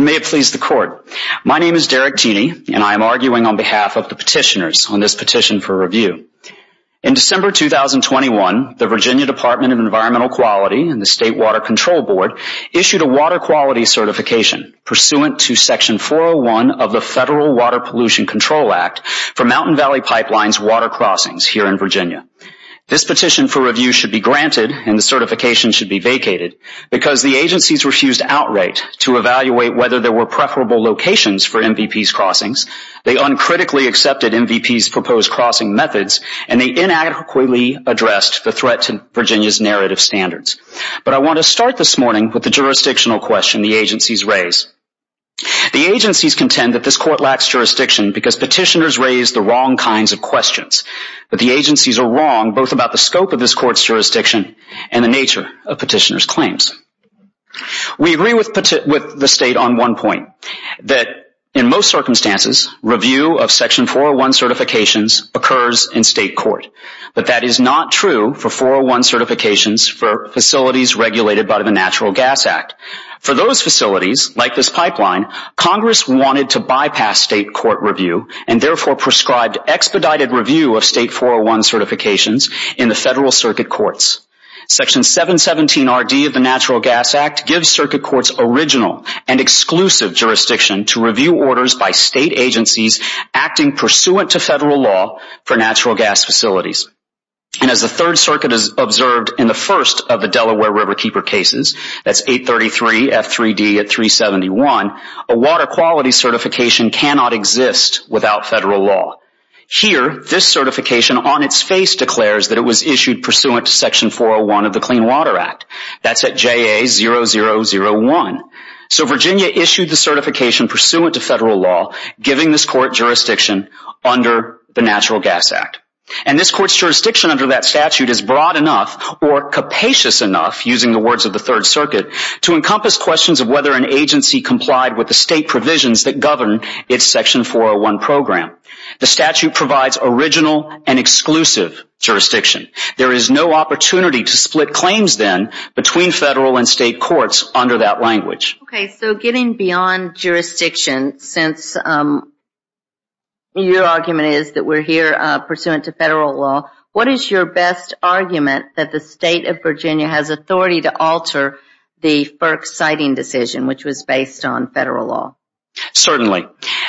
May it please the Court. My name is Derek Tini, and I am arguing on behalf of the petitioners on this petition for review. In December 2021, the Virginia Department of Environmental Quality and the State Water Control Board issued a Water Quality Certification pursuant to Section 401 of the Federal Water Pollution Control Act for Mountain Valley Pipeline's water crossings here in Virginia. This petition for review should be granted and the certification should be vacated because the agencies refused outright to evaluate whether there were preferable locations for MVPs' crossings, they uncritically accepted MVPs' proposed crossing methods, and they inadequately addressed the threat to Virginia's narrative standards. But I want to start this morning with the jurisdictional question the agencies raise. The agencies contend that this Court lacks jurisdiction because petitioners raise the wrong kinds of questions. But the agencies are wrong both about the scope of this Court's jurisdiction and the nature of petitioners' claims. We agree with the State on one point, that in most circumstances, review of Section 401 certifications occurs in State court. But that is not true for 401 certifications for facilities regulated by the Natural Gas Act. For those facilities, like this pipeline, Congress wanted to bypass State court review and therefore prescribed expedited review of State 401 certifications in the Federal Circuit Courts. Section 717RD of the Natural Gas Act gives Circuit Courts original and exclusive jurisdiction to review orders by State agencies acting pursuant to Federal law for natural gas facilities. And as the Third Circuit has observed in the first of the Delaware Riverkeeper cases, that's 833 F3D at 371, a water quality certification cannot exist without Federal law. Here, this certification on its face declares that it was issued pursuant to Section 401 of the Clean Water Act. That's at JA0001. So Virginia issued the certification pursuant to Federal law, giving this Court jurisdiction under the Natural Gas Act. And this Court's jurisdiction under that statute is broad enough or capacious enough, using the words of the Third Circuit, to encompass questions of whether an agency complied with the State provisions that govern its Section 401 program. The statute provides original and exclusive jurisdiction. There is no opportunity to split claims then between Federal and State courts under that language. Okay, so getting beyond jurisdiction, since your argument is that we're here pursuant to Federal law, what is your best argument that the State of Virginia has authority to alter the FERC citing decision, which was based on Federal law? Certainly.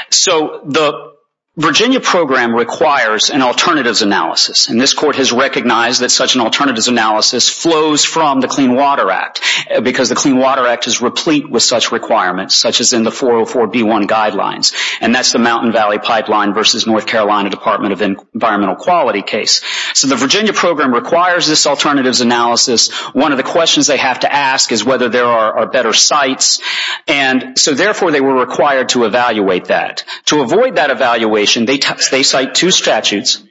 So the Virginia program requires an alternatives analysis. And this Court has recognized that such an alternatives analysis flows from the Clean Water Act, because the Clean Water Act is replete with such requirements, such as in the 404B1 guidelines. And that's the Mountain Valley Pipeline versus North Carolina Department of Environmental Quality case. So the Virginia program requires this alternatives analysis. One of the questions they have to ask is whether there are better sites. And so, therefore, they were required to evaluate that. To avoid that evaluation, they cite two statutes.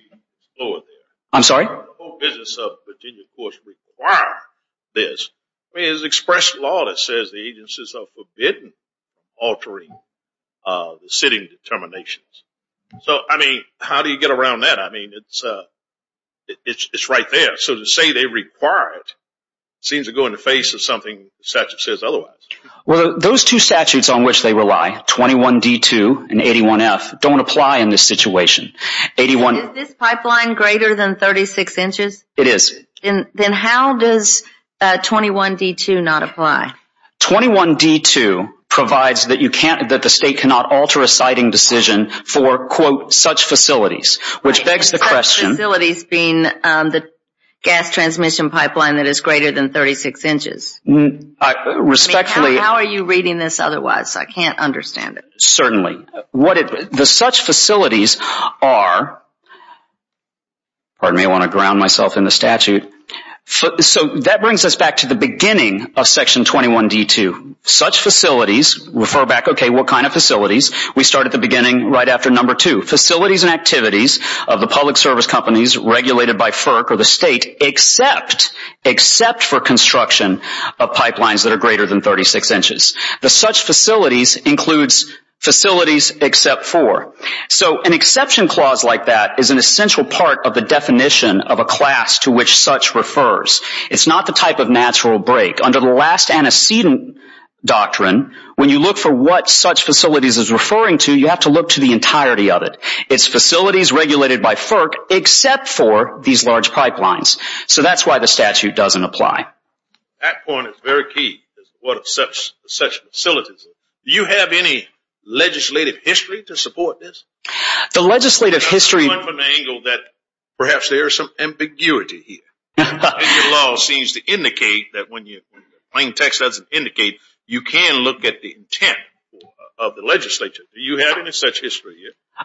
I'm sorry? The whole business of Virginia courts requires this. I mean, it's express law that says the agencies are forbidden altering the sitting determinations. So, I mean, how do you get around that? I mean, it's right there. So to say they require it seems to go in the face of something the statute says otherwise. Those two statutes on which they rely, 21D2 and 81F, don't apply in this situation. Is this pipeline greater than 36 inches? It is. Then how does 21D2 not apply? 21D2 provides that the state cannot alter a siting decision for, quote, such facilities. Which begs the question Such facilities being the gas transmission pipeline that is greater than 36 inches? Respectfully I mean, how are you reading this otherwise? I can't understand it. Certainly. The such facilities are, pardon me, I want to ground myself in the statute. So that brings us back to the beginning of section 21D2. Such facilities, refer back, okay, what kind of facilities? We start at the beginning right after number two. Facilities and activities of the public service companies regulated by FERC or the state except, except for construction of pipelines that are greater than 36 inches. The such facilities includes facilities except for. So an exception clause like that is an essential part of the definition of a class to which such refers. It's not the type of natural break. Under the last antecedent doctrine, when you look for what such facilities is referring to, you have to look to the entirety of it. It's facilities regulated by FERC except for these large pipelines. So that's why the statute doesn't apply. That point is very key. What are such facilities? Do you have any legislative history to support this? The legislative history. From the angle that perhaps there is some ambiguity here. Your law seems to indicate that when your plain text doesn't indicate, you can look at the intent of the legislature. Do you have any such history?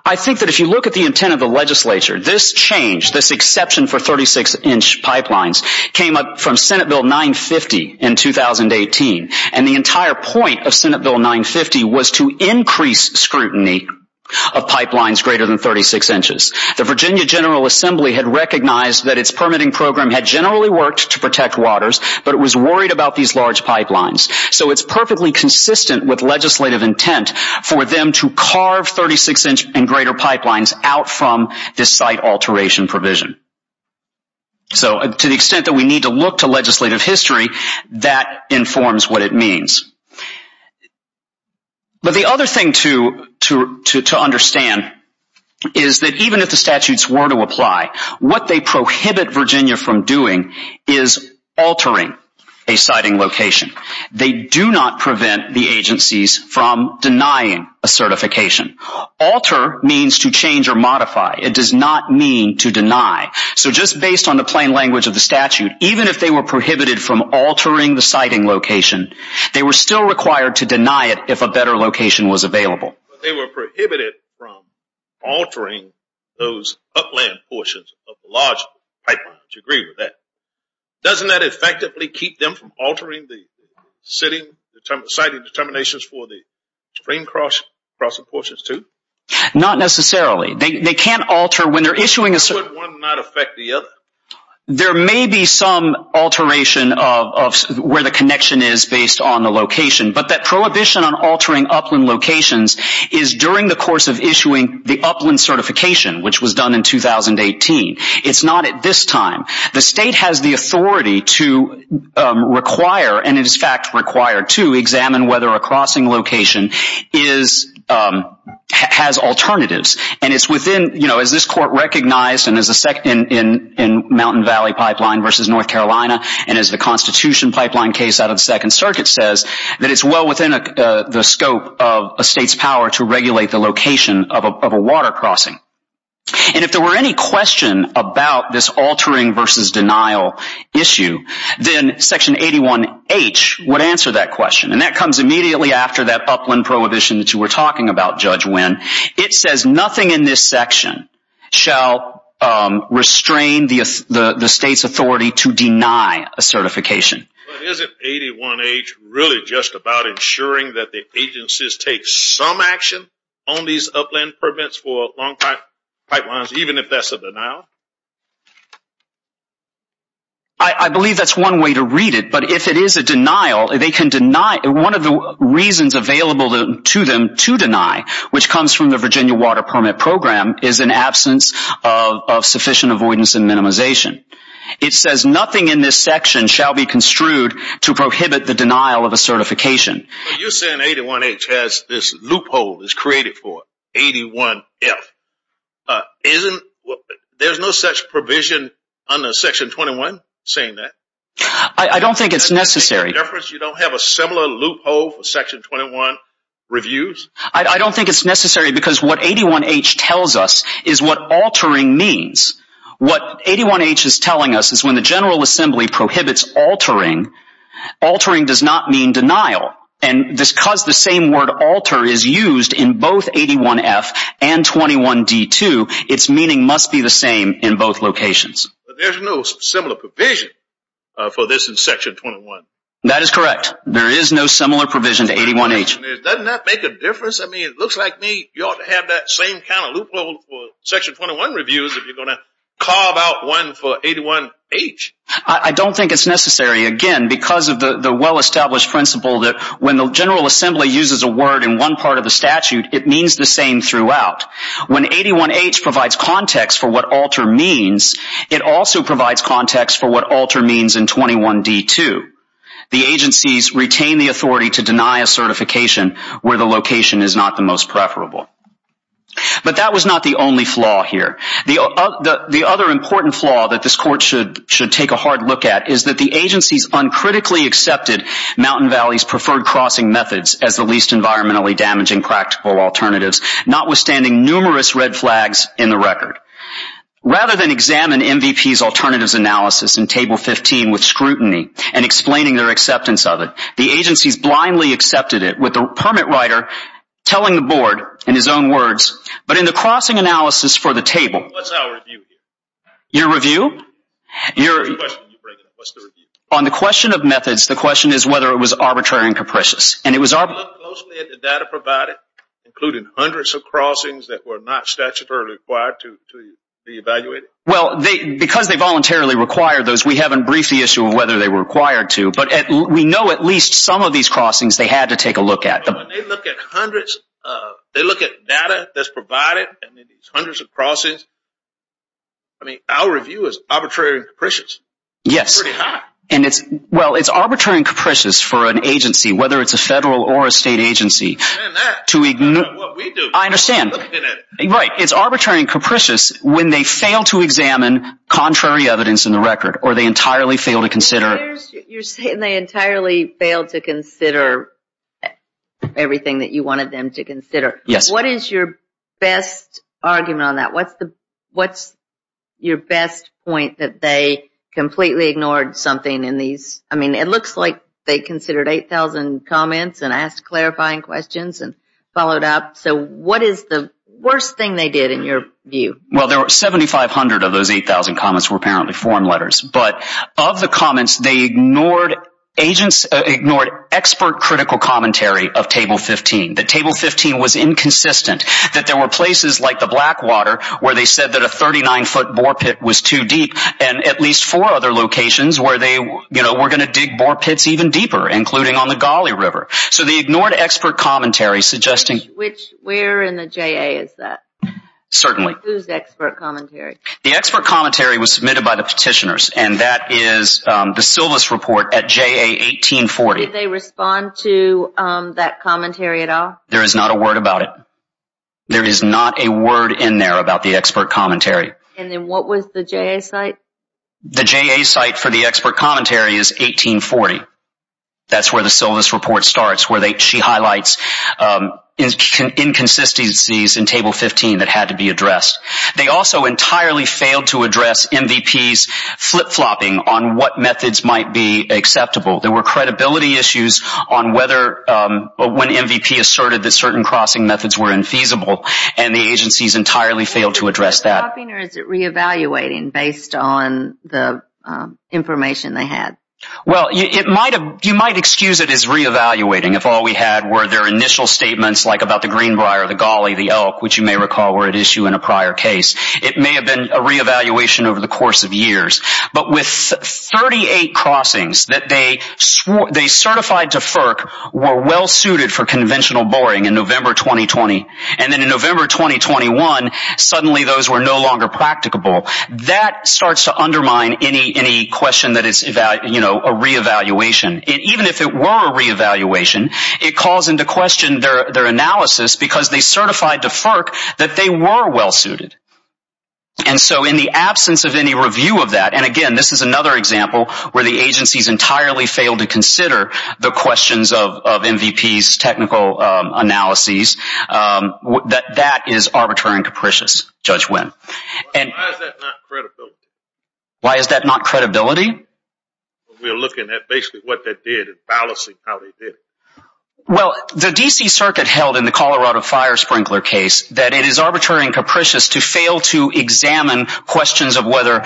I think that if you look at the intent of the legislature, this change, this exception for 36-inch pipelines came up from Senate Bill 950 in 2018. And the entire point of Senate Bill 950 was to increase scrutiny of pipelines greater than 36 inches. The Virginia General Assembly had recognized that its permitting program had generally worked to protect waters, but it was worried about these large pipelines. So it's perfectly consistent with legislative intent for them to carve 36-inch and greater pipelines out from this site alteration provision. So to the extent that we need to look to legislative history, that informs what it means. But the other thing to understand is that even if the statutes were to apply, what they prohibit Virginia from doing is altering a siting location. They do not prevent the agencies from denying a certification. Alter means to change or modify. It does not mean to deny. So just based on the plain language of the statute, even if they were prohibited from altering the siting location, they were still required to deny it if a better location was available. But they were prohibited from altering those upland portions of the large pipelines. Do you agree with that? Doesn't that effectively keep them from altering the siting determinations for the stream crossing portions too? Not necessarily. They can't alter when they're issuing a... So would one not affect the other? There may be some alteration of where the connection is based on the location, but that prohibition on altering upland locations is during the course of issuing the upland certification, which was done in 2018. It's not at this time. The state has the authority to require and is in fact required to examine whether a crossing location has alternatives. And it's within, you know, as this court recognized in Mountain Valley Pipeline v. North Carolina and as the Constitution Pipeline case out of the Second Circuit says, that it's well within the scope of a state's power to regulate the location of a water crossing. And if there were any question about this altering versus denial issue, then Section 81H would answer that question. And that comes immediately after that upland prohibition that you were talking about, Judge Winn. It says nothing in this section shall restrain the state's authority to deny a certification. But isn't 81H really just about ensuring that the agencies take some action on these upland permits for long-pipe pipelines, even if that's a denial? I believe that's one way to read it. But if it is a denial, they can deny one of the reasons available to them to deny, which comes from the Virginia Water Permit Program, is an absence of sufficient avoidance and minimization. It says nothing in this section shall be construed to prohibit the denial of a certification. You're saying 81H has this loophole is created for 81F. There's no such provision under Section 21 saying that? I don't think it's necessary. In other words, you don't have a similar loophole for Section 21 reviews? I don't think it's necessary because what 81H tells us is what altering means. What 81H is telling us is when the General Assembly prohibits altering, altering does not mean denial. And because the same word alter is used in both 81F and 21D2, its meaning must be the same in both locations. There's no similar provision for this in Section 21. That is correct. There is no similar provision to 81H. Doesn't that make a difference? I mean, it looks like you ought to have that same kind of loophole for Section 21 reviews if you're going to carve out one for 81H. I don't think it's necessary, again, because of the well-established principle that when the General Assembly uses a word in one part of the statute, it means the same throughout. When 81H provides context for what alter means, it also provides context for what alter means in 21D2. The agencies retain the authority to deny a certification where the location is not the most preferable. But that was not the only flaw here. The other important flaw that this Court should take a hard look at is that the agencies uncritically accepted Mountain Valley's preferred crossing methods as the least environmentally damaging practical alternatives, notwithstanding numerous red flags in the record. Rather than examine MVP's alternatives analysis in Table 15 with scrutiny and explaining their acceptance of it, the agencies blindly accepted it with the permit writer telling the Board in his own words, but in the crossing analysis for the table. What's our review here? Your review? What's the question you're bringing up? What's the review? We looked closely at the data provided, including hundreds of crossings that were not statutorily required to be evaluated. Well, because they voluntarily required those, we haven't briefed the issue of whether they were required to. But we know at least some of these crossings they had to take a look at. But when they look at hundreds, they look at data that's provided and then these hundreds of crossings. I mean, our review is arbitrary and capricious. Yes. It's pretty high. Well, it's arbitrary and capricious for an agency, whether it's a federal or a state agency. I understand. Right. It's arbitrary and capricious when they fail to examine contrary evidence in the record or they entirely fail to consider. You're saying they entirely fail to consider everything that you wanted them to consider. Yes. What is your best argument on that? What's your best point that they completely ignored something in these? I mean, it looks like they considered 8,000 comments and asked clarifying questions and followed up. So what is the worst thing they did in your view? Well, 7,500 of those 8,000 comments were apparently form letters. But of the comments, they ignored expert critical commentary of Table 15. That Table 15 was inconsistent, that there were places like the Blackwater where they said that a 39-foot boar pit was too deep and at least four other locations where they were going to dig boar pits even deeper, including on the Gauley River. So they ignored expert commentary suggesting. Which, where in the JA is that? Certainly. Whose expert commentary? The expert commentary was submitted by the petitioners and that is the Silvis report at JA 1840. Did they respond to that commentary at all? There is not a word about it. There is not a word in there about the expert commentary. And then what was the JA site? The JA site for the expert commentary is 1840. That's where the Silvis report starts, where she highlights inconsistencies in Table 15 that had to be addressed. They also entirely failed to address MVP's flip-flopping on what methods might be acceptable. There were credibility issues on whether when MVP asserted that certain crossing methods were infeasible and the agencies entirely failed to address that. Is it flipping-flopping or is it re-evaluating based on the information they had? Well, you might excuse it as re-evaluating if all we had were their initial statements like about the Greenbrier, the Gauley, the Elk, which you may recall were at issue in a prior case. It may have been a re-evaluation over the course of years. But with 38 crossings that they certified to FERC were well-suited for conventional boring in November 2020. And then in November 2021, suddenly those were no longer practicable. That starts to undermine any question that it's a re-evaluation. Even if it were a re-evaluation, it calls into question their analysis because they certified to FERC that they were well-suited. And so in the absence of any review of that, and again, this is another example where the agencies entirely failed to consider the questions of MVP's technical analyses, that is arbitrary and capricious, Judge Wynn. Why is that not credibility? Why is that not credibility? We're looking at basically what they did and balancing how they did it. Well, the D.C. Circuit held in the Colorado Fire Sprinkler case that it is arbitrary and capricious to fail to examine questions of whether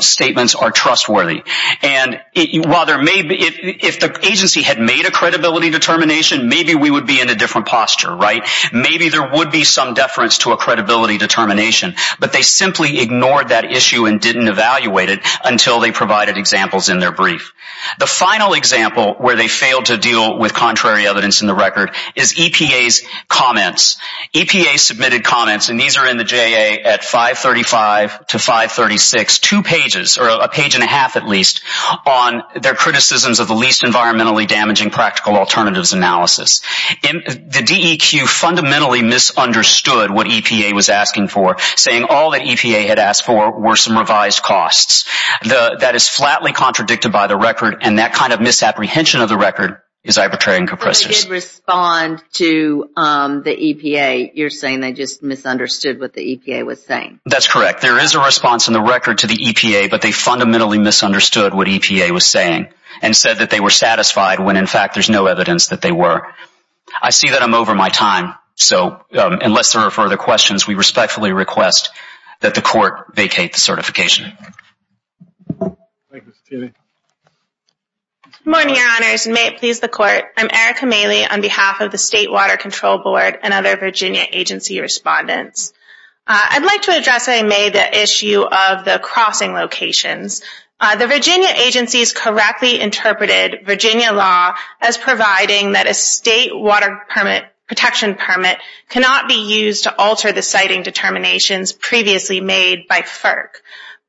statements are trustworthy. And while there may be, if the agency had made a credibility determination, maybe we would be in a different posture, right? Maybe there would be some deference to a credibility determination. But they simply ignored that issue and didn't evaluate it until they provided examples in their brief. The final example where they failed to deal with contrary evidence in the record is EPA's comments. EPA submitted comments, and these are in the JA at 535 to 536, two pages, or a page and a half at least, on their criticisms of the least environmentally damaging practical alternatives analysis. The DEQ fundamentally misunderstood what EPA was asking for, saying all that EPA had asked for were some revised costs. That is flatly contradicted by the record, and that kind of misapprehension of the record is arbitrary and capricious. But they did respond to the EPA. You're saying they just misunderstood what the EPA was saying. That's correct. There is a response in the record to the EPA, but they fundamentally misunderstood what EPA was saying and said that they were satisfied when, in fact, there's no evidence that they were. I see that I'm over my time, so unless there are further questions, we respectfully request that the Court vacate the certification. Thank you, Mr. Thiele. Good morning, Your Honors, and may it please the Court. I'm Erica Maley on behalf of the State Water Control Board and other Virginia agency respondents. I'd like to address in May the issue of the crossing locations. The Virginia agencies correctly interpreted Virginia law as providing that a state water protection permit cannot be used to alter the siting determinations previously made by FERC.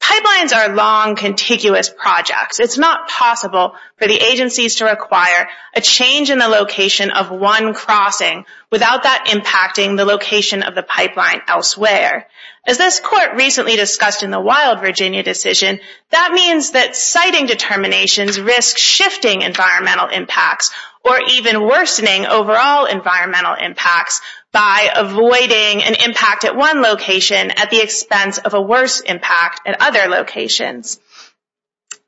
Pipelines are long, contiguous projects. It's not possible for the agencies to require a change in the location of one crossing without that impacting the location of the pipeline elsewhere. As this Court recently discussed in the Wild Virginia decision, that means that siting determinations risk shifting environmental impacts or even worsening overall environmental impacts by avoiding an impact at one location at the expense of a worse impact at other locations.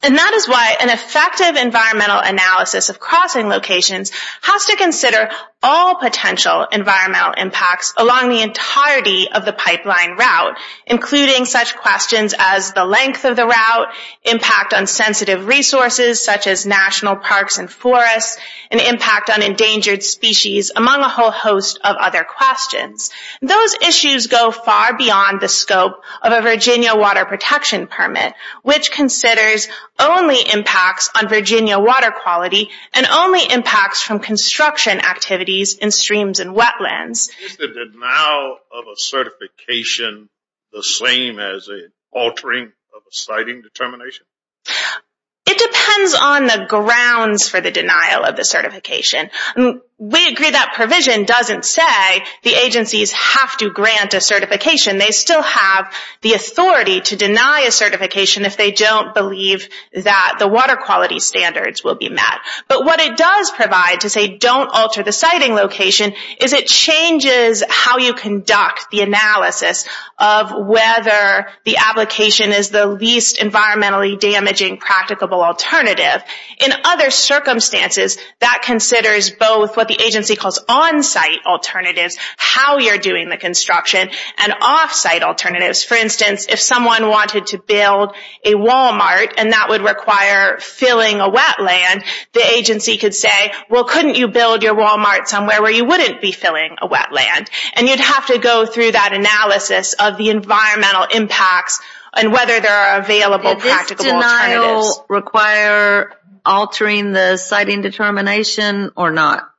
And that is why an effective environmental analysis of crossing locations has to consider all potential environmental impacts along the entirety of the pipeline route, including such questions as the length of the route, impact on sensitive resources, such as national parks and forests, and impact on endangered species, among a whole host of other questions. Those issues go far beyond the scope of a Virginia water protection permit, which considers only impacts on Virginia water quality and only impacts from construction activities in streams and wetlands. Is the denial of a certification the same as an altering of a siting determination? It depends on the grounds for the denial of the certification. We agree that provision doesn't say the agencies have to grant a certification. They still have the authority to deny a certification if they don't believe that the water quality standards will be met. But what it does provide to say don't alter the siting location is it changes how you conduct the analysis of whether the application is the least environmentally damaging practicable alternative. In other circumstances, that considers both what the agency calls on-site alternatives, how you're doing the construction, and off-site alternatives. For instance, if someone wanted to build a Walmart and that would require filling a wetland, the agency could say, well, couldn't you build your Walmart somewhere where you wouldn't be filling a wetland? And you'd have to go through that analysis of the environmental impacts and whether there are available practicable alternatives. Did this denial require altering the siting determination or not?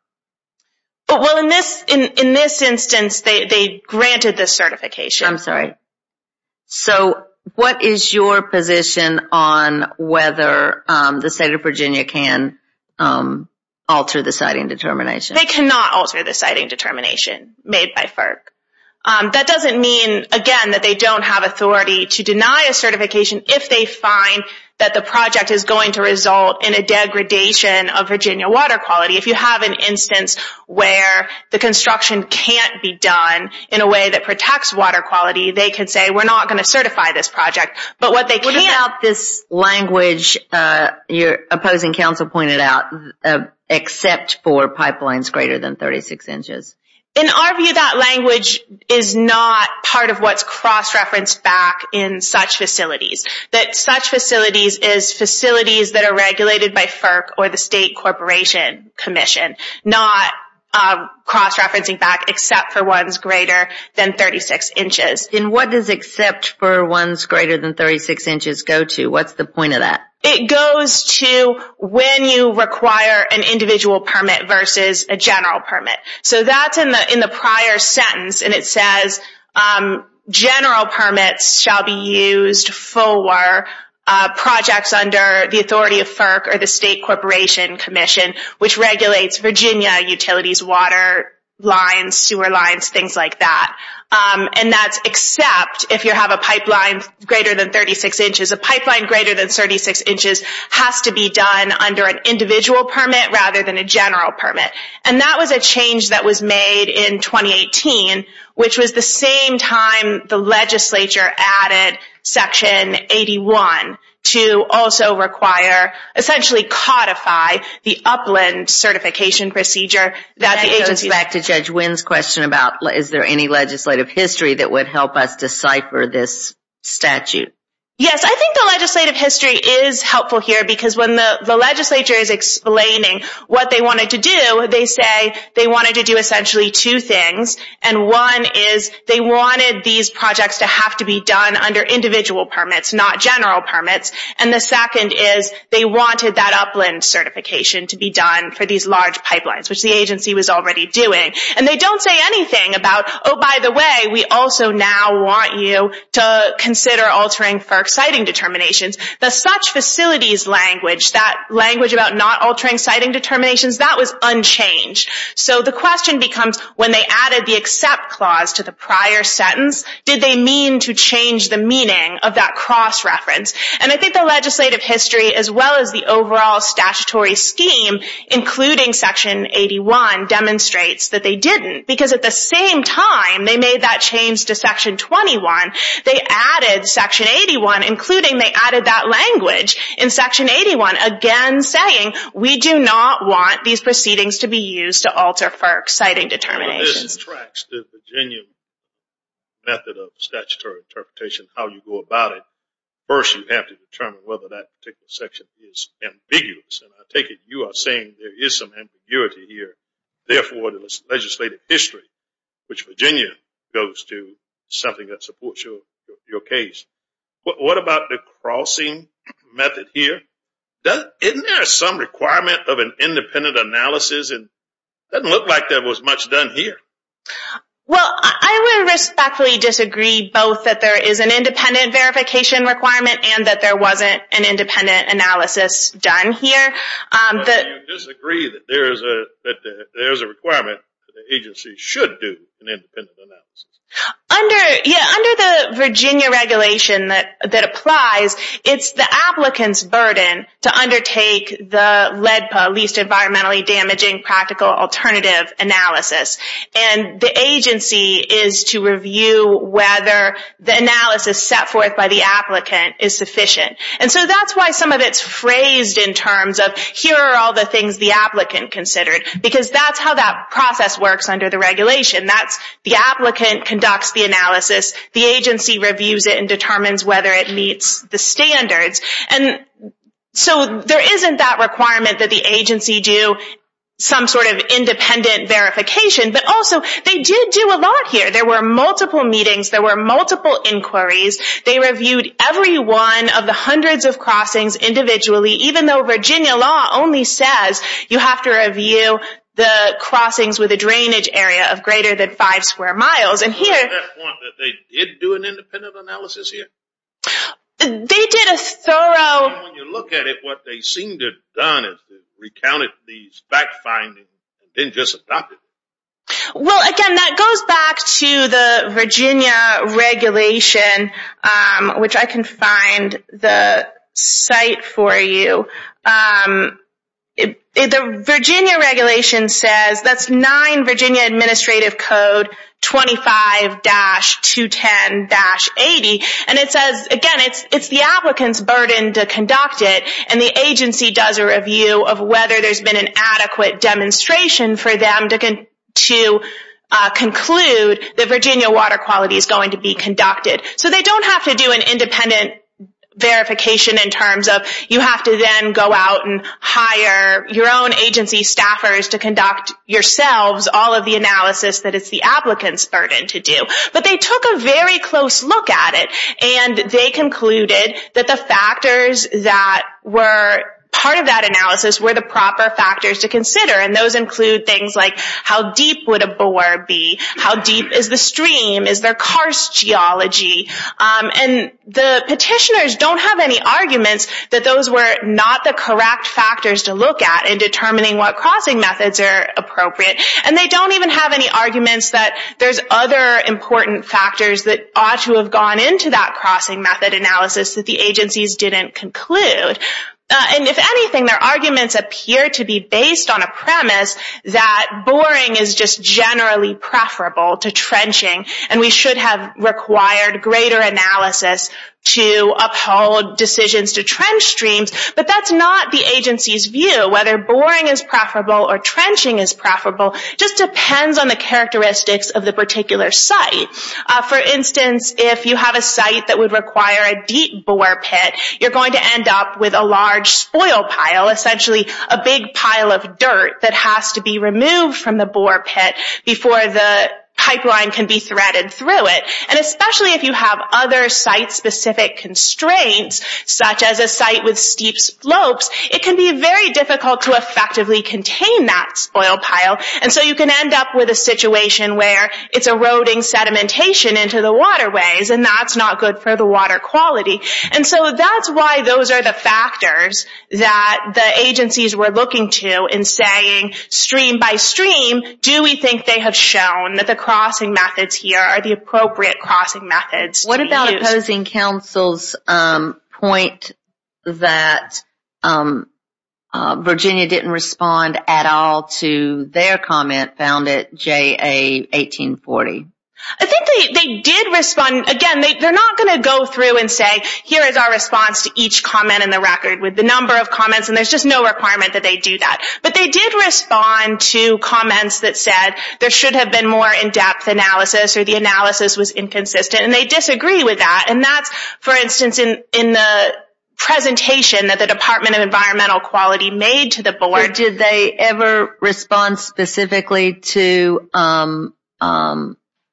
Well, in this instance, they granted the certification. I'm sorry. So what is your position on whether the state of Virginia can alter the siting determination? They cannot alter the siting determination made by FERC. That doesn't mean, again, that they don't have authority to deny a certification if they find that the project is going to result in a degradation of Virginia water quality. If you have an instance where the construction can't be done in a way that protects water quality, they can say we're not going to certify this project. What about this language your opposing counsel pointed out, except for pipelines greater than 36 inches? In our view, that language is not part of what's cross-referenced back in such facilities. Such facilities are facilities that are regulated by FERC or the state corporation commission, not cross-referencing back except for ones greater than 36 inches. And what does except for ones greater than 36 inches go to? What's the point of that? It goes to when you require an individual permit versus a general permit. So that's in the prior sentence, and it says general permits shall be used for projects under the authority of FERC or the state corporation commission, which regulates Virginia utilities, water lines, sewer lines, things like that. And that's except if you have a pipeline greater than 36 inches. A pipeline greater than 36 inches has to be done under an individual permit rather than a general permit. And that was a change that was made in 2018, which was the same time the legislature added Section 81 to also require, essentially codify, the upland certification procedure that the agency... Is there any legislative history that would help us decipher this statute? Yes, I think the legislative history is helpful here because when the legislature is explaining what they wanted to do, they say they wanted to do essentially two things. And one is they wanted these projects to have to be done under individual permits, not general permits. And the second is they wanted that upland certification to be done for these large pipelines, which the agency was already doing. And they don't say anything about, oh, by the way, we also now want you to consider altering FERC siting determinations. The such facilities language, that language about not altering siting determinations, that was unchanged. So the question becomes, when they added the accept clause to the prior sentence, did they mean to change the meaning of that cross-reference? And I think the legislative history, as well as the overall statutory scheme, including Section 81, demonstrates that they didn't. Because at the same time they made that change to Section 21, they added Section 81, including they added that language in Section 81, again saying we do not want these proceedings to be used to alter FERC siting determinations. This tracks the genuine method of statutory interpretation, how you go about it. First, you have to determine whether that particular section is ambiguous. And I take it you are saying there is some ambiguity here. Therefore, the legislative history, which Virginia goes to, is something that supports your case. What about the crossing method here? Isn't there some requirement of an independent analysis? It doesn't look like there was much done here. Well, I would respectfully disagree both that there is an independent verification requirement and that there wasn't an independent analysis done here. But you disagree that there is a requirement that the agency should do an independent analysis. Under the Virginia regulation that applies, it's the applicant's burden to undertake the LEDPA, Least Environmentally Damaging Practical Alternative analysis. And the agency is to review whether the analysis set forth by the applicant is sufficient. And so that's why some of it is phrased in terms of, here are all the things the applicant considered. Because that's how that process works under the regulation. The applicant conducts the analysis. The agency reviews it and determines whether it meets the standards. So there isn't that requirement that the agency do some sort of independent verification. But also they did do a lot here. There were multiple meetings. There were multiple inquiries. They reviewed every one of the hundreds of crossings individually. Even though Virginia law only says you have to review the crossings with a drainage area of greater than five square miles. They did do an independent analysis here? They did a thorough... When you look at it, what they seem to have done is recounted these fact findings and didn't just adopt it. Well, again, that goes back to the Virginia regulation, which I can find the site for you. The Virginia regulation says that's 9 Virginia Administrative Code 25-210-80. And it says, again, it's the applicant's burden to conduct it. And the agency does a review of whether there's been an adequate demonstration for them to conclude that Virginia water quality is going to be conducted. So they don't have to do an independent verification in terms of you have to then go out and hire your own agency staffers to conduct yourselves all of the analysis that it's the applicant's burden to do. But they took a very close look at it. And they concluded that the factors that were part of that analysis were the proper factors to consider. And those include things like how deep would a bore be? How deep is the stream? Is there karst geology? And the petitioners don't have any arguments that those were not the correct factors to look at in determining what crossing methods are appropriate. And they don't even have any arguments that there's other important factors that ought to have gone into that crossing method analysis that the agencies didn't conclude. And if anything, their arguments appear to be based on a premise that boring is just generally preferable to trenching. And we should have required greater analysis to uphold decisions to trench streams. But that's not the agency's view. Whether boring is preferable or trenching is preferable just depends on the characteristics of the particular site. For instance, if you have a site that would require a deep bore pit, you're going to end up with a large spoil pile, essentially a big pile of dirt that has to be removed from the bore pit before the pipeline can be threaded through it. And especially if you have other site-specific constraints, such as a site with steep slopes, it can be very difficult to effectively contain that spoil pile. And so you can end up with a situation where it's eroding sedimentation into the waterways, and that's not good for the water quality. And so that's why those are the factors that the agencies were looking to in saying stream by stream, do we think they have shown that the crossing methods here are the appropriate crossing methods to use? The opposing counsel's point that Virginia didn't respond at all to their comment found it J.A. 1840. I think they did respond. Again, they're not going to go through and say, here is our response to each comment in the record with the number of comments, and there's just no requirement that they do that. But they did respond to comments that said there should have been more in-depth analysis or the analysis was inconsistent, and they disagree with that. And that's, for instance, in the presentation that the Department of Environmental Quality made to the board. Did they ever respond specifically to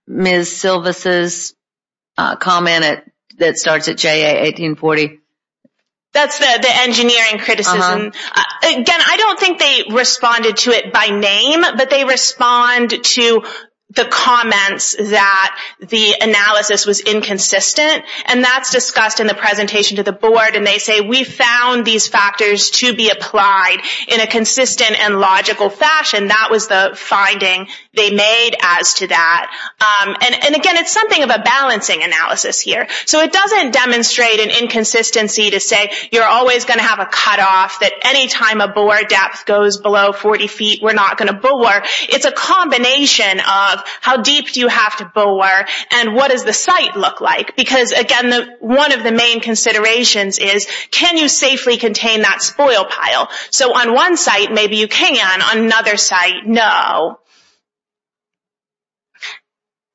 Ms. Silvas' comment that starts at J.A. 1840? That's the engineering criticism. Again, I don't think they responded to it by name, but they respond to the comments that the analysis was inconsistent, and that's discussed in the presentation to the board, and they say we found these factors to be applied in a consistent and logical fashion. That was the finding they made as to that. And again, it's something of a balancing analysis here. So it doesn't demonstrate an inconsistency to say you're always going to have a cutoff, that any time a bore depth goes below 40 feet, we're not going to bore. It's a combination of how deep do you have to bore, and what does the site look like? Because, again, one of the main considerations is can you safely contain that spoil pile? So on one site, maybe you can. On another site, no.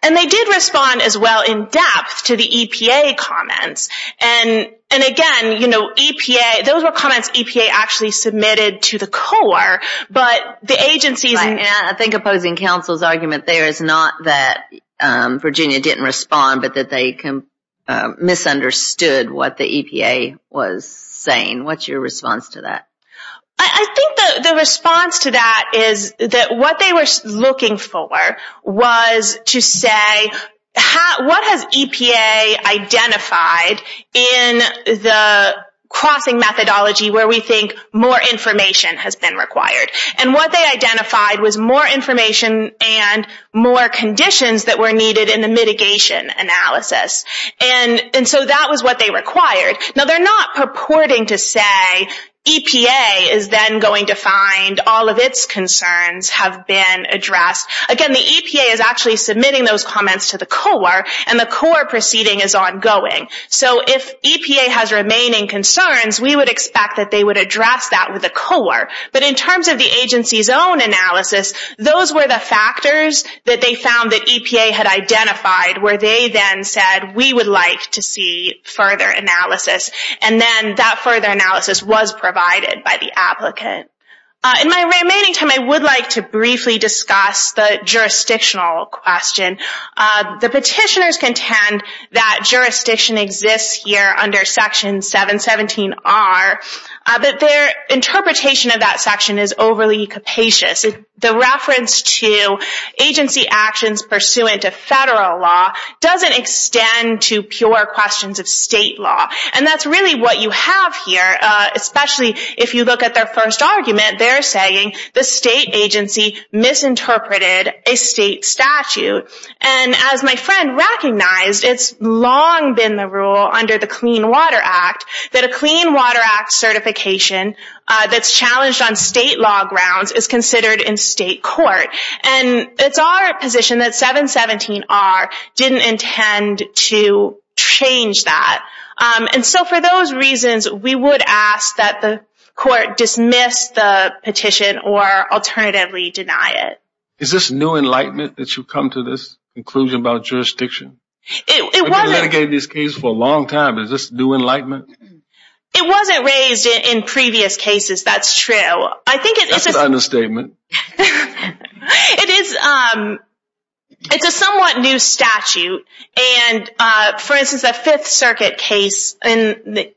And they did respond as well in depth to the EPA comments. And, again, EPA, those were comments EPA actually submitted to the Corps, but the agencies... I think opposing counsel's argument there is not that Virginia didn't respond, but that they misunderstood what the EPA was saying. What's your response to that? I think the response to that is that what they were looking for was to say, what has EPA identified in the crossing methodology where we think more information has been required? And what they identified was more information and more conditions that were needed in the mitigation analysis. And so that was what they required. Now, they're not purporting to say EPA is then going to find all of its concerns have been addressed. Again, the EPA is actually submitting those comments to the Corps, and the Corps proceeding is ongoing. So if EPA has remaining concerns, we would expect that they would address that with the Corps. But in terms of the agency's own analysis, those were the factors that they found that EPA had identified where they then said, we would like to see further analysis. And then that further analysis was provided by the applicant. In my remaining time, I would like to briefly discuss the jurisdictional question. The petitioners contend that jurisdiction exists here under Section 717R, but their interpretation of that section is overly capacious. The reference to agency actions pursuant to federal law doesn't extend to pure questions of state law. And that's really what you have here, especially if you look at their first argument. They're saying the state agency misinterpreted a state statute. And as my friend recognized, it's long been the rule under the Clean Water Act that a Clean Water Act certification that's challenged on state law grounds is considered in state court. And it's our position that 717R didn't intend to change that. And so for those reasons, we would ask that the court dismiss the petition or alternatively deny it. Is this new enlightenment that you've come to this conclusion about jurisdiction? We've been litigating these cases for a long time. Is this new enlightenment? It wasn't raised in previous cases, that's true. That's an understatement. It is. It's a somewhat new statute. And for instance, the Fifth Circuit case, the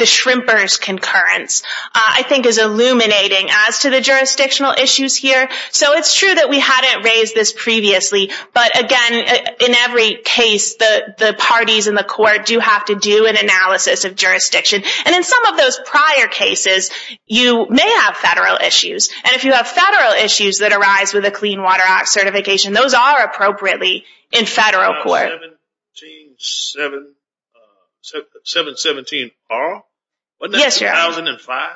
Shrimper's concurrence, I think is illuminating as to the jurisdictional issues here. So it's true that we hadn't raised this previously. But again, in every case, the parties in the court do have to do an analysis of jurisdiction. And in some of those prior cases, you may have federal issues. And if you have federal issues that arise with a Clean Water Act certification, those are appropriately in federal court. 717R? Yes, Your Honor. Wasn't that 2005?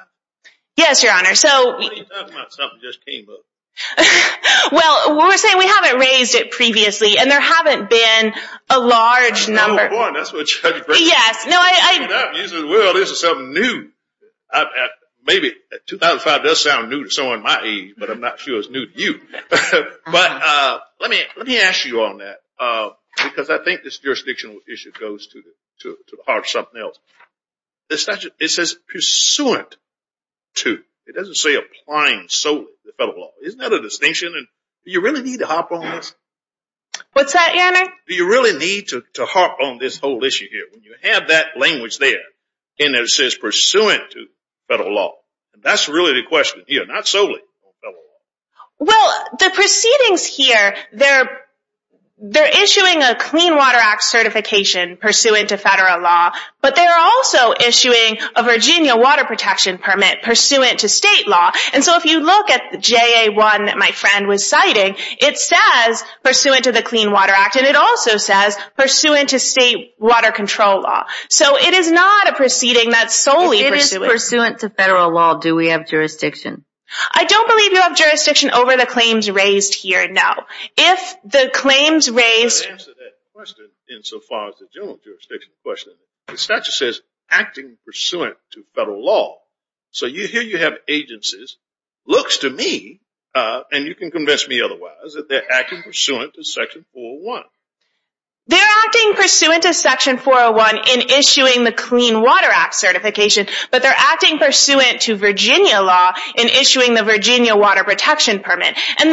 Yes, Your Honor. Why are you talking about something that just came up? Well, we're saying we haven't raised it previously. And there haven't been a large number. Yes. Well, this is something new. Maybe 2005 does sound new to someone my age, but I'm not sure it's new to you. But let me ask you on that because I think this jurisdictional issue goes to the heart of something else. It says pursuant to. It doesn't say applying solely to the federal law. Isn't that a distinction? What's that, Your Honor? Do you really need to harp on this whole issue here? When you have that language there and it says pursuant to federal law, that's really the question here, not solely federal law. Well, the proceedings here, they're issuing a Clean Water Act certification pursuant to federal law, but they're also issuing a Virginia water protection permit pursuant to state law. And so if you look at JA1 that my friend was citing, it says pursuant to the Clean Water Act. And it also says pursuant to state water control law. So it is not a proceeding that's solely pursuant. If it is pursuant to federal law, do we have jurisdiction? I don't believe you have jurisdiction over the claims raised here, no. If the claims raised… Let me answer that question insofar as the general jurisdiction question. The statute says acting pursuant to federal law. So here you have agencies. Looks to me, and you can convince me otherwise, that they're acting pursuant to Section 401. They're acting pursuant to Section 401 in issuing the Clean Water Act certification, but they're acting pursuant to Virginia law in issuing the Virginia water protection permit. And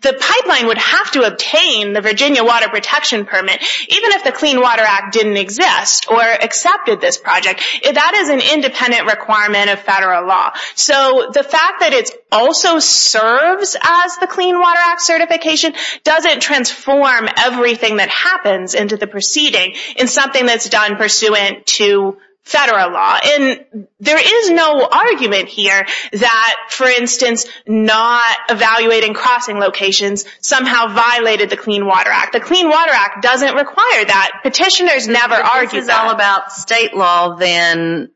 the pipeline would have to obtain the Virginia water protection permit, even if the Clean Water Act didn't exist or accepted this project. That is an independent requirement of federal law. So the fact that it also serves as the Clean Water Act certification doesn't transform everything that happens into the proceeding in something that's done pursuant to federal law. And there is no argument here that, for instance, not evaluating crossing locations somehow violated the Clean Water Act. The Clean Water Act doesn't require that. Petitioners never argue that. If it's all about state law, then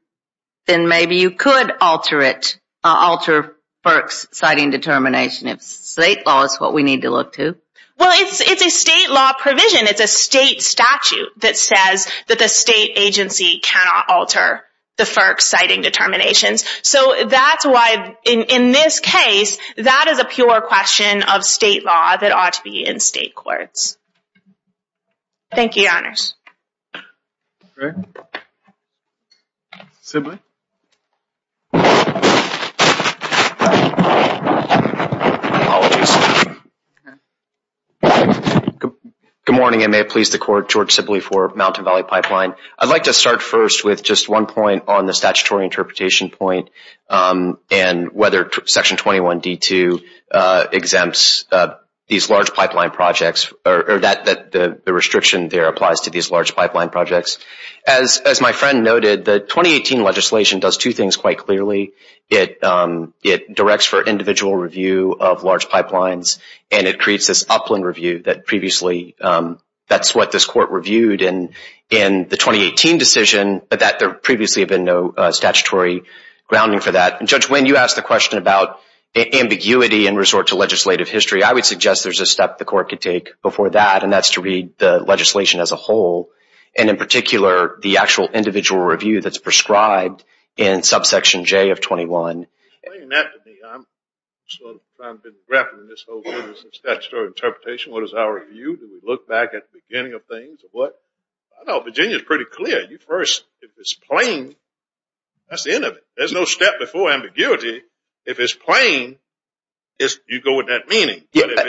maybe you could alter it, alter FERC's citing determination if state law is what we need to look to. Well, it's a state law provision. It's a state statute that says that the state agency cannot alter the FERC's citing determinations. So that's why, in this case, that is a pure question of state law that ought to be in state courts. Thank you, Your Honors. Good morning. I may have pleased the Court. George Sibley for Mountain Valley Pipeline. I'd like to start first with just one point on the statutory interpretation point and whether Section 21D2 exempts these large pipeline projects or that the restriction there applies to these large pipeline projects. As my friend noted, the 2018 legislation does two things quite clearly. It directs for individual review of large pipelines, and it creates this upland review that previously that's what this Court reviewed in the 2018 decision, but that there previously had been no statutory grounding for that. And Judge Winn, you asked the question about ambiguity in resort to legislative history. I would suggest there's a step the Court could take before that, and that's to read the legislation as a whole, and in particular the actual individual review that's prescribed in subsection J of 21. Explain that to me. I've been grappling with this whole statutory interpretation. What is our view? Do we look back at the beginning of things? I know Virginia is pretty clear. If it's plain, that's the end of it. There's no step before ambiguity. If it's plain, you go with that meaning. But if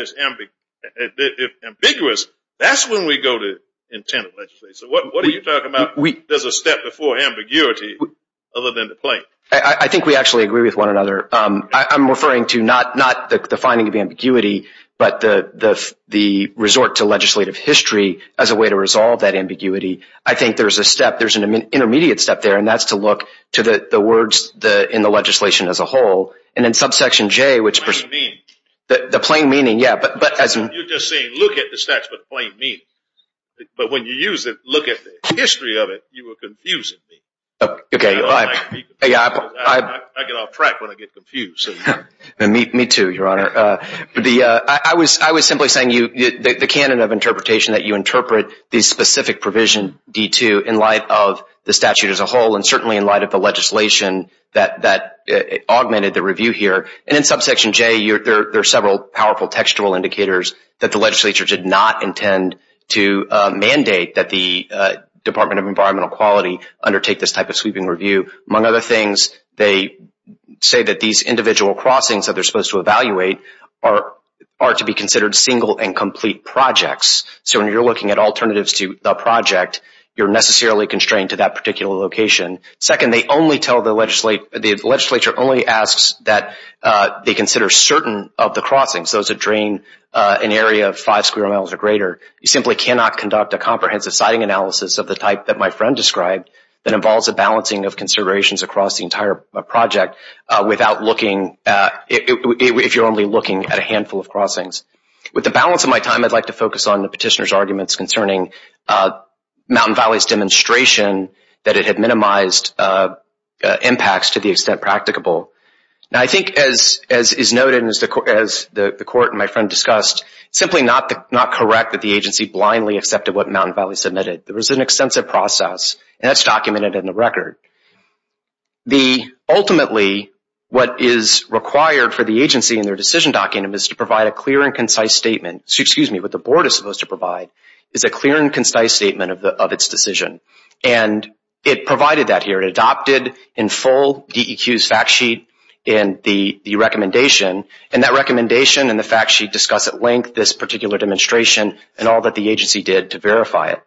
it's ambiguous, that's when we go to intent of legislation. So what are you talking about? There's a step before ambiguity other than the plain. I think we actually agree with one another. I'm referring to not the finding of ambiguity, but the resort to legislative history as a way to resolve that ambiguity. I think there's a step. There's an intermediate step there, and that's to look to the words in the legislation as a whole. And in subsection J, the plain meaning, yeah. You're just saying look at the statute of plain meaning. But when you use it, look at the history of it, you are confusing me. Okay. I get off track when I get confused. Me too, Your Honor. I was simply saying the canon of interpretation, that you interpret the specific provision, D2, in light of the statute as a whole and certainly in light of the legislation that augmented the review here. And in subsection J, there are several powerful textual indicators that the legislature did not intend to mandate that the Department of Environmental Quality undertake this type of sweeping review. Among other things, they say that these individual crossings that they're supposed to evaluate are to be considered single and complete projects. So when you're looking at alternatives to the project, you're necessarily constrained to that particular location. Second, the legislature only asks that they consider certain of the crossings, those that drain an area of five square miles or greater. You simply cannot conduct a comprehensive siting analysis of the type that my friend described that involves a balancing of considerations across the entire project if you're only looking at a handful of crossings. With the balance of my time, I'd like to focus on the petitioner's arguments concerning Mountain Valley's demonstration that it had minimized impacts to the extent practicable. I think as is noted and as the court and my friend discussed, simply not correct that the agency blindly accepted what Mountain Valley submitted. There was an extensive process, and that's documented in the record. Ultimately, what is required for the agency in their decision document is to provide a clear and concise statement. Excuse me, what the board is supposed to provide is a clear and concise statement of its decision, and it provided that here. It adopted in full DEQ's fact sheet and the recommendation, and that recommendation and the fact sheet discuss at length this particular demonstration and all that the agency did to verify it.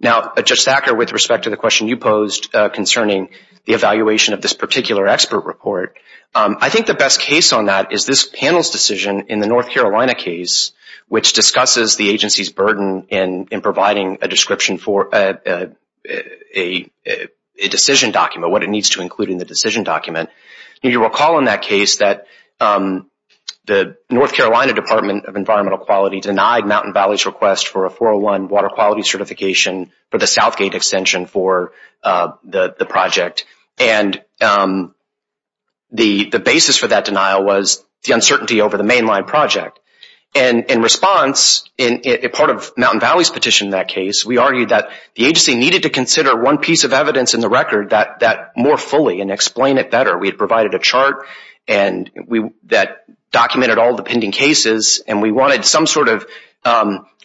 Now, Judge Thacker, with respect to the question you posed concerning the evaluation of this particular expert report, I think the best case on that is this panel's decision in the North Carolina case, which discusses the agency's burden in providing a description for a decision document, what it needs to include in the decision document. You recall in that case that the North Carolina Department of Environmental Quality denied Mountain Valley's request for a 401 water quality certification for the Southgate extension for the project, and the basis for that denial was the uncertainty over the mainline project. In response, part of Mountain Valley's petition in that case, we argued that the agency needed to consider one piece of evidence in the record more fully and explain it better. We had provided a chart that documented all the pending cases, and we wanted some sort of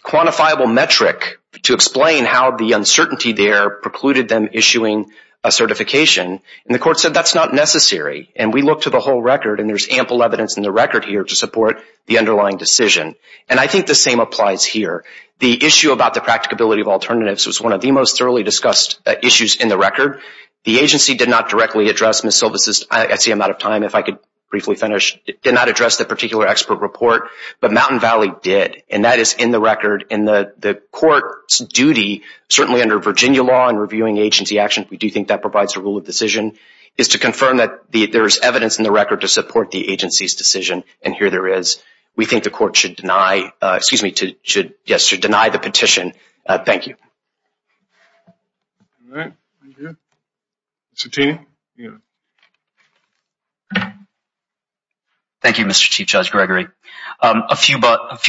quantifiable metric to explain how the uncertainty there precluded them issuing a certification. And the court said that's not necessary. And we looked at the whole record, and there's ample evidence in the record here to support the underlying decision. And I think the same applies here. The issue about the practicability of alternatives was one of the most thoroughly discussed issues in the record. The agency did not directly address Ms. Silva's – I see I'm out of time. If I could briefly finish. The agency did not address the particular expert report, but Mountain Valley did. And that is in the record. And the court's duty, certainly under Virginia law and reviewing agency actions, we do think that provides a rule of decision, is to confirm that there is evidence in the record to support the agency's decision, and here there is. We think the court should deny the petition. Thank you. All right, thank you. Mr. Taney, you have it. Thank you, Mr. Chief Judge Gregory. A few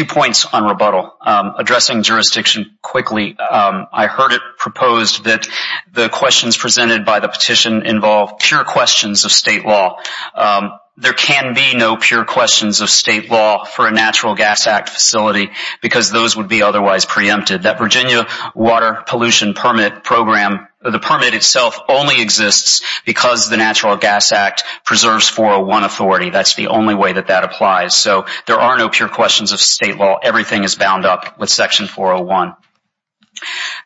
points on rebuttal. Addressing jurisdiction quickly, I heard it proposed that the questions presented by the petition involve pure questions of state law. There can be no pure questions of state law for a Natural Gas Act facility, because those would be otherwise preempted. That Virginia Water Pollution Permit Program, the permit itself only exists because the Natural Gas Act preserves 401 authority. That's the only way that that applies. So there are no pure questions of state law. Everything is bound up with Section 401.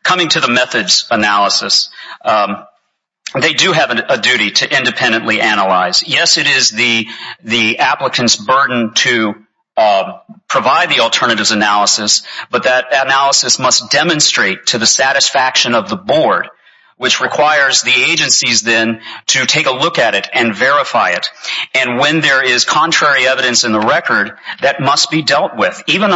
Coming to the methods analysis, they do have a duty to independently analyze. Yes, it is the applicant's burden to provide the alternatives analysis, but that analysis must demonstrate to the satisfaction of the board, which requires the agencies then to take a look at it and verify it. And when there is contrary evidence in the record, that must be dealt with, even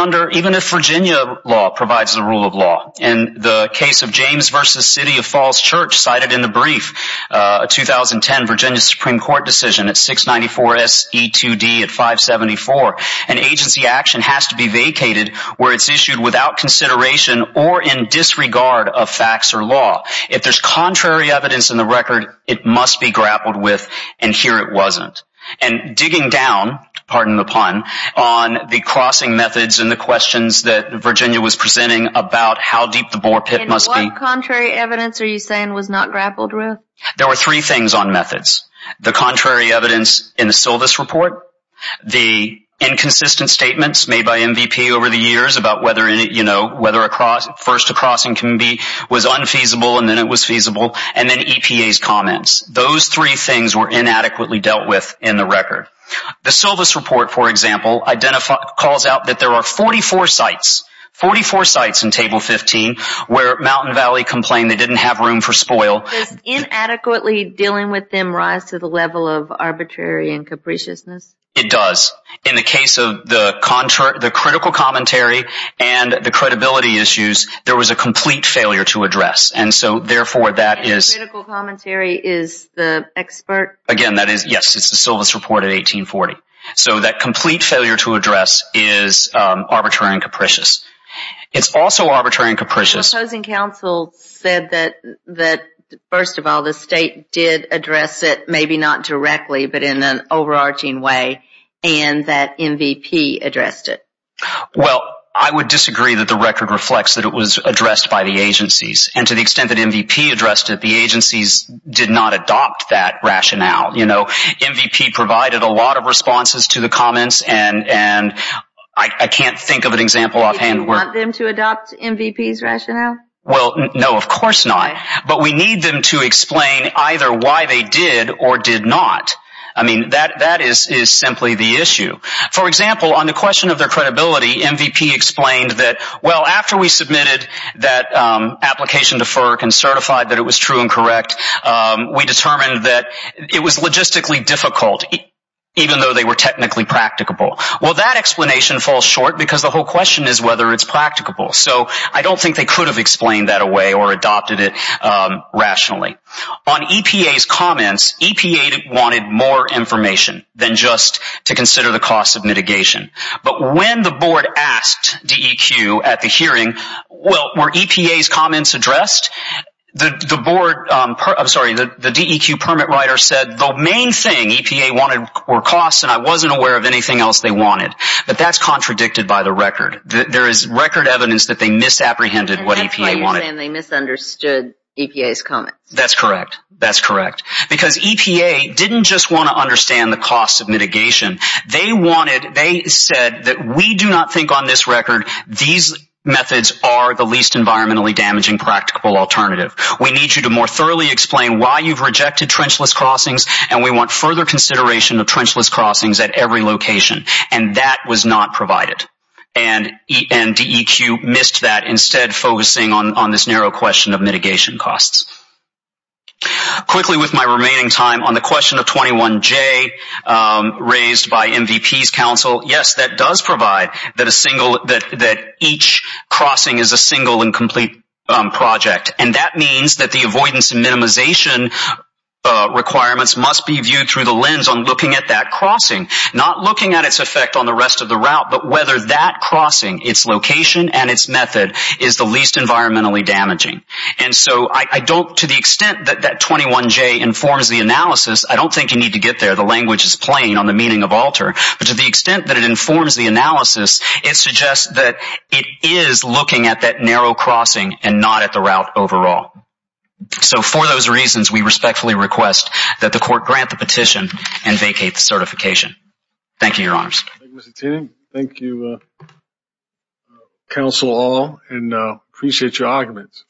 if Virginia law provides the rule of law. In the case of James v. City of Falls Church cited in the brief, a 2010 Virginia Supreme Court decision at 694 S.E.2.D. at 574, an agency action has to be vacated where it's issued without consideration or in disregard of facts or law. If there's contrary evidence in the record, it must be grappled with, and here it wasn't. And digging down, pardon the pun, on the crossing methods and the questions that Virginia was presenting about how deep the bore pit must be. And what contrary evidence are you saying was not grappled with? There were three things on methods. The contrary evidence in the Silvis Report, the inconsistent statements made by MVP over the years about whether, you know, whether first a crossing was unfeasible and then it was feasible, and then EPA's comments. Those three things were inadequately dealt with in the record. The Silvis Report, for example, calls out that there are 44 sites, 44 sites in Table 15, where Mountain Valley complained they didn't have room for spoil. Does inadequately dealing with them rise to the level of arbitrary and capriciousness? It does. In the case of the critical commentary and the credibility issues, there was a complete failure to address. And so, therefore, that is. And the critical commentary is the expert. Again, that is, yes, it's the Silvis Report of 1840. So that complete failure to address is arbitrary and capricious. It's also arbitrary and capricious. The opposing counsel said that, first of all, the state did address it, maybe not directly, but in an overarching way, and that MVP addressed it. Well, I would disagree that the record reflects that it was addressed by the agencies. And to the extent that MVP addressed it, the agencies did not adopt that rationale. You know, MVP provided a lot of responses to the comments, and I can't think of an example offhand. Do you want them to adopt MVP's rationale? Well, no, of course not. But we need them to explain either why they did or did not. I mean, that is simply the issue. For example, on the question of their credibility, MVP explained that, well, after we submitted that application to FERC and certified that it was true and correct, we determined that it was logistically difficult, even though they were technically practicable. Well, that explanation falls short because the whole question is whether it's practicable. So I don't think they could have explained that away or adopted it rationally. On EPA's comments, EPA wanted more information than just to consider the costs of mitigation. But when the board asked DEQ at the hearing, well, were EPA's comments addressed? The board, I'm sorry, the DEQ permit writer said, the main thing EPA wanted were costs, and I wasn't aware of anything else they wanted. But that's contradicted by the record. There is record evidence that they misapprehended what EPA wanted. And that's why you're saying they misunderstood EPA's comments. That's correct. That's correct. Because EPA didn't just want to understand the costs of mitigation. They wanted, they said that we do not think on this record these methods are the least environmentally damaging practical alternative. We need you to more thoroughly explain why you've rejected trenchless crossings, and we want further consideration of trenchless crossings at every location. And that was not provided. And DEQ missed that, instead focusing on this narrow question of mitigation costs. Quickly, with my remaining time, on the question of 21J raised by MVP's counsel, yes, that does provide that a single, that each crossing is a single and complete project. And that means that the avoidance and minimization requirements must be viewed through the lens on looking at that crossing. Not looking at its effect on the rest of the route, but whether that crossing, its location and its method, is the least environmentally damaging. And so I don't, to the extent that 21J informs the analysis, I don't think you need to get there, the language is plain on the meaning of alter. But to the extent that it informs the analysis, it suggests that it is looking at that narrow crossing, and not at the route overall. So for those reasons, we respectfully request that the court grant the petition and vacate the certification. Thank you, your honors. Thank you, Mr. Tinney. Thank you, counsel all, and appreciate your arguments.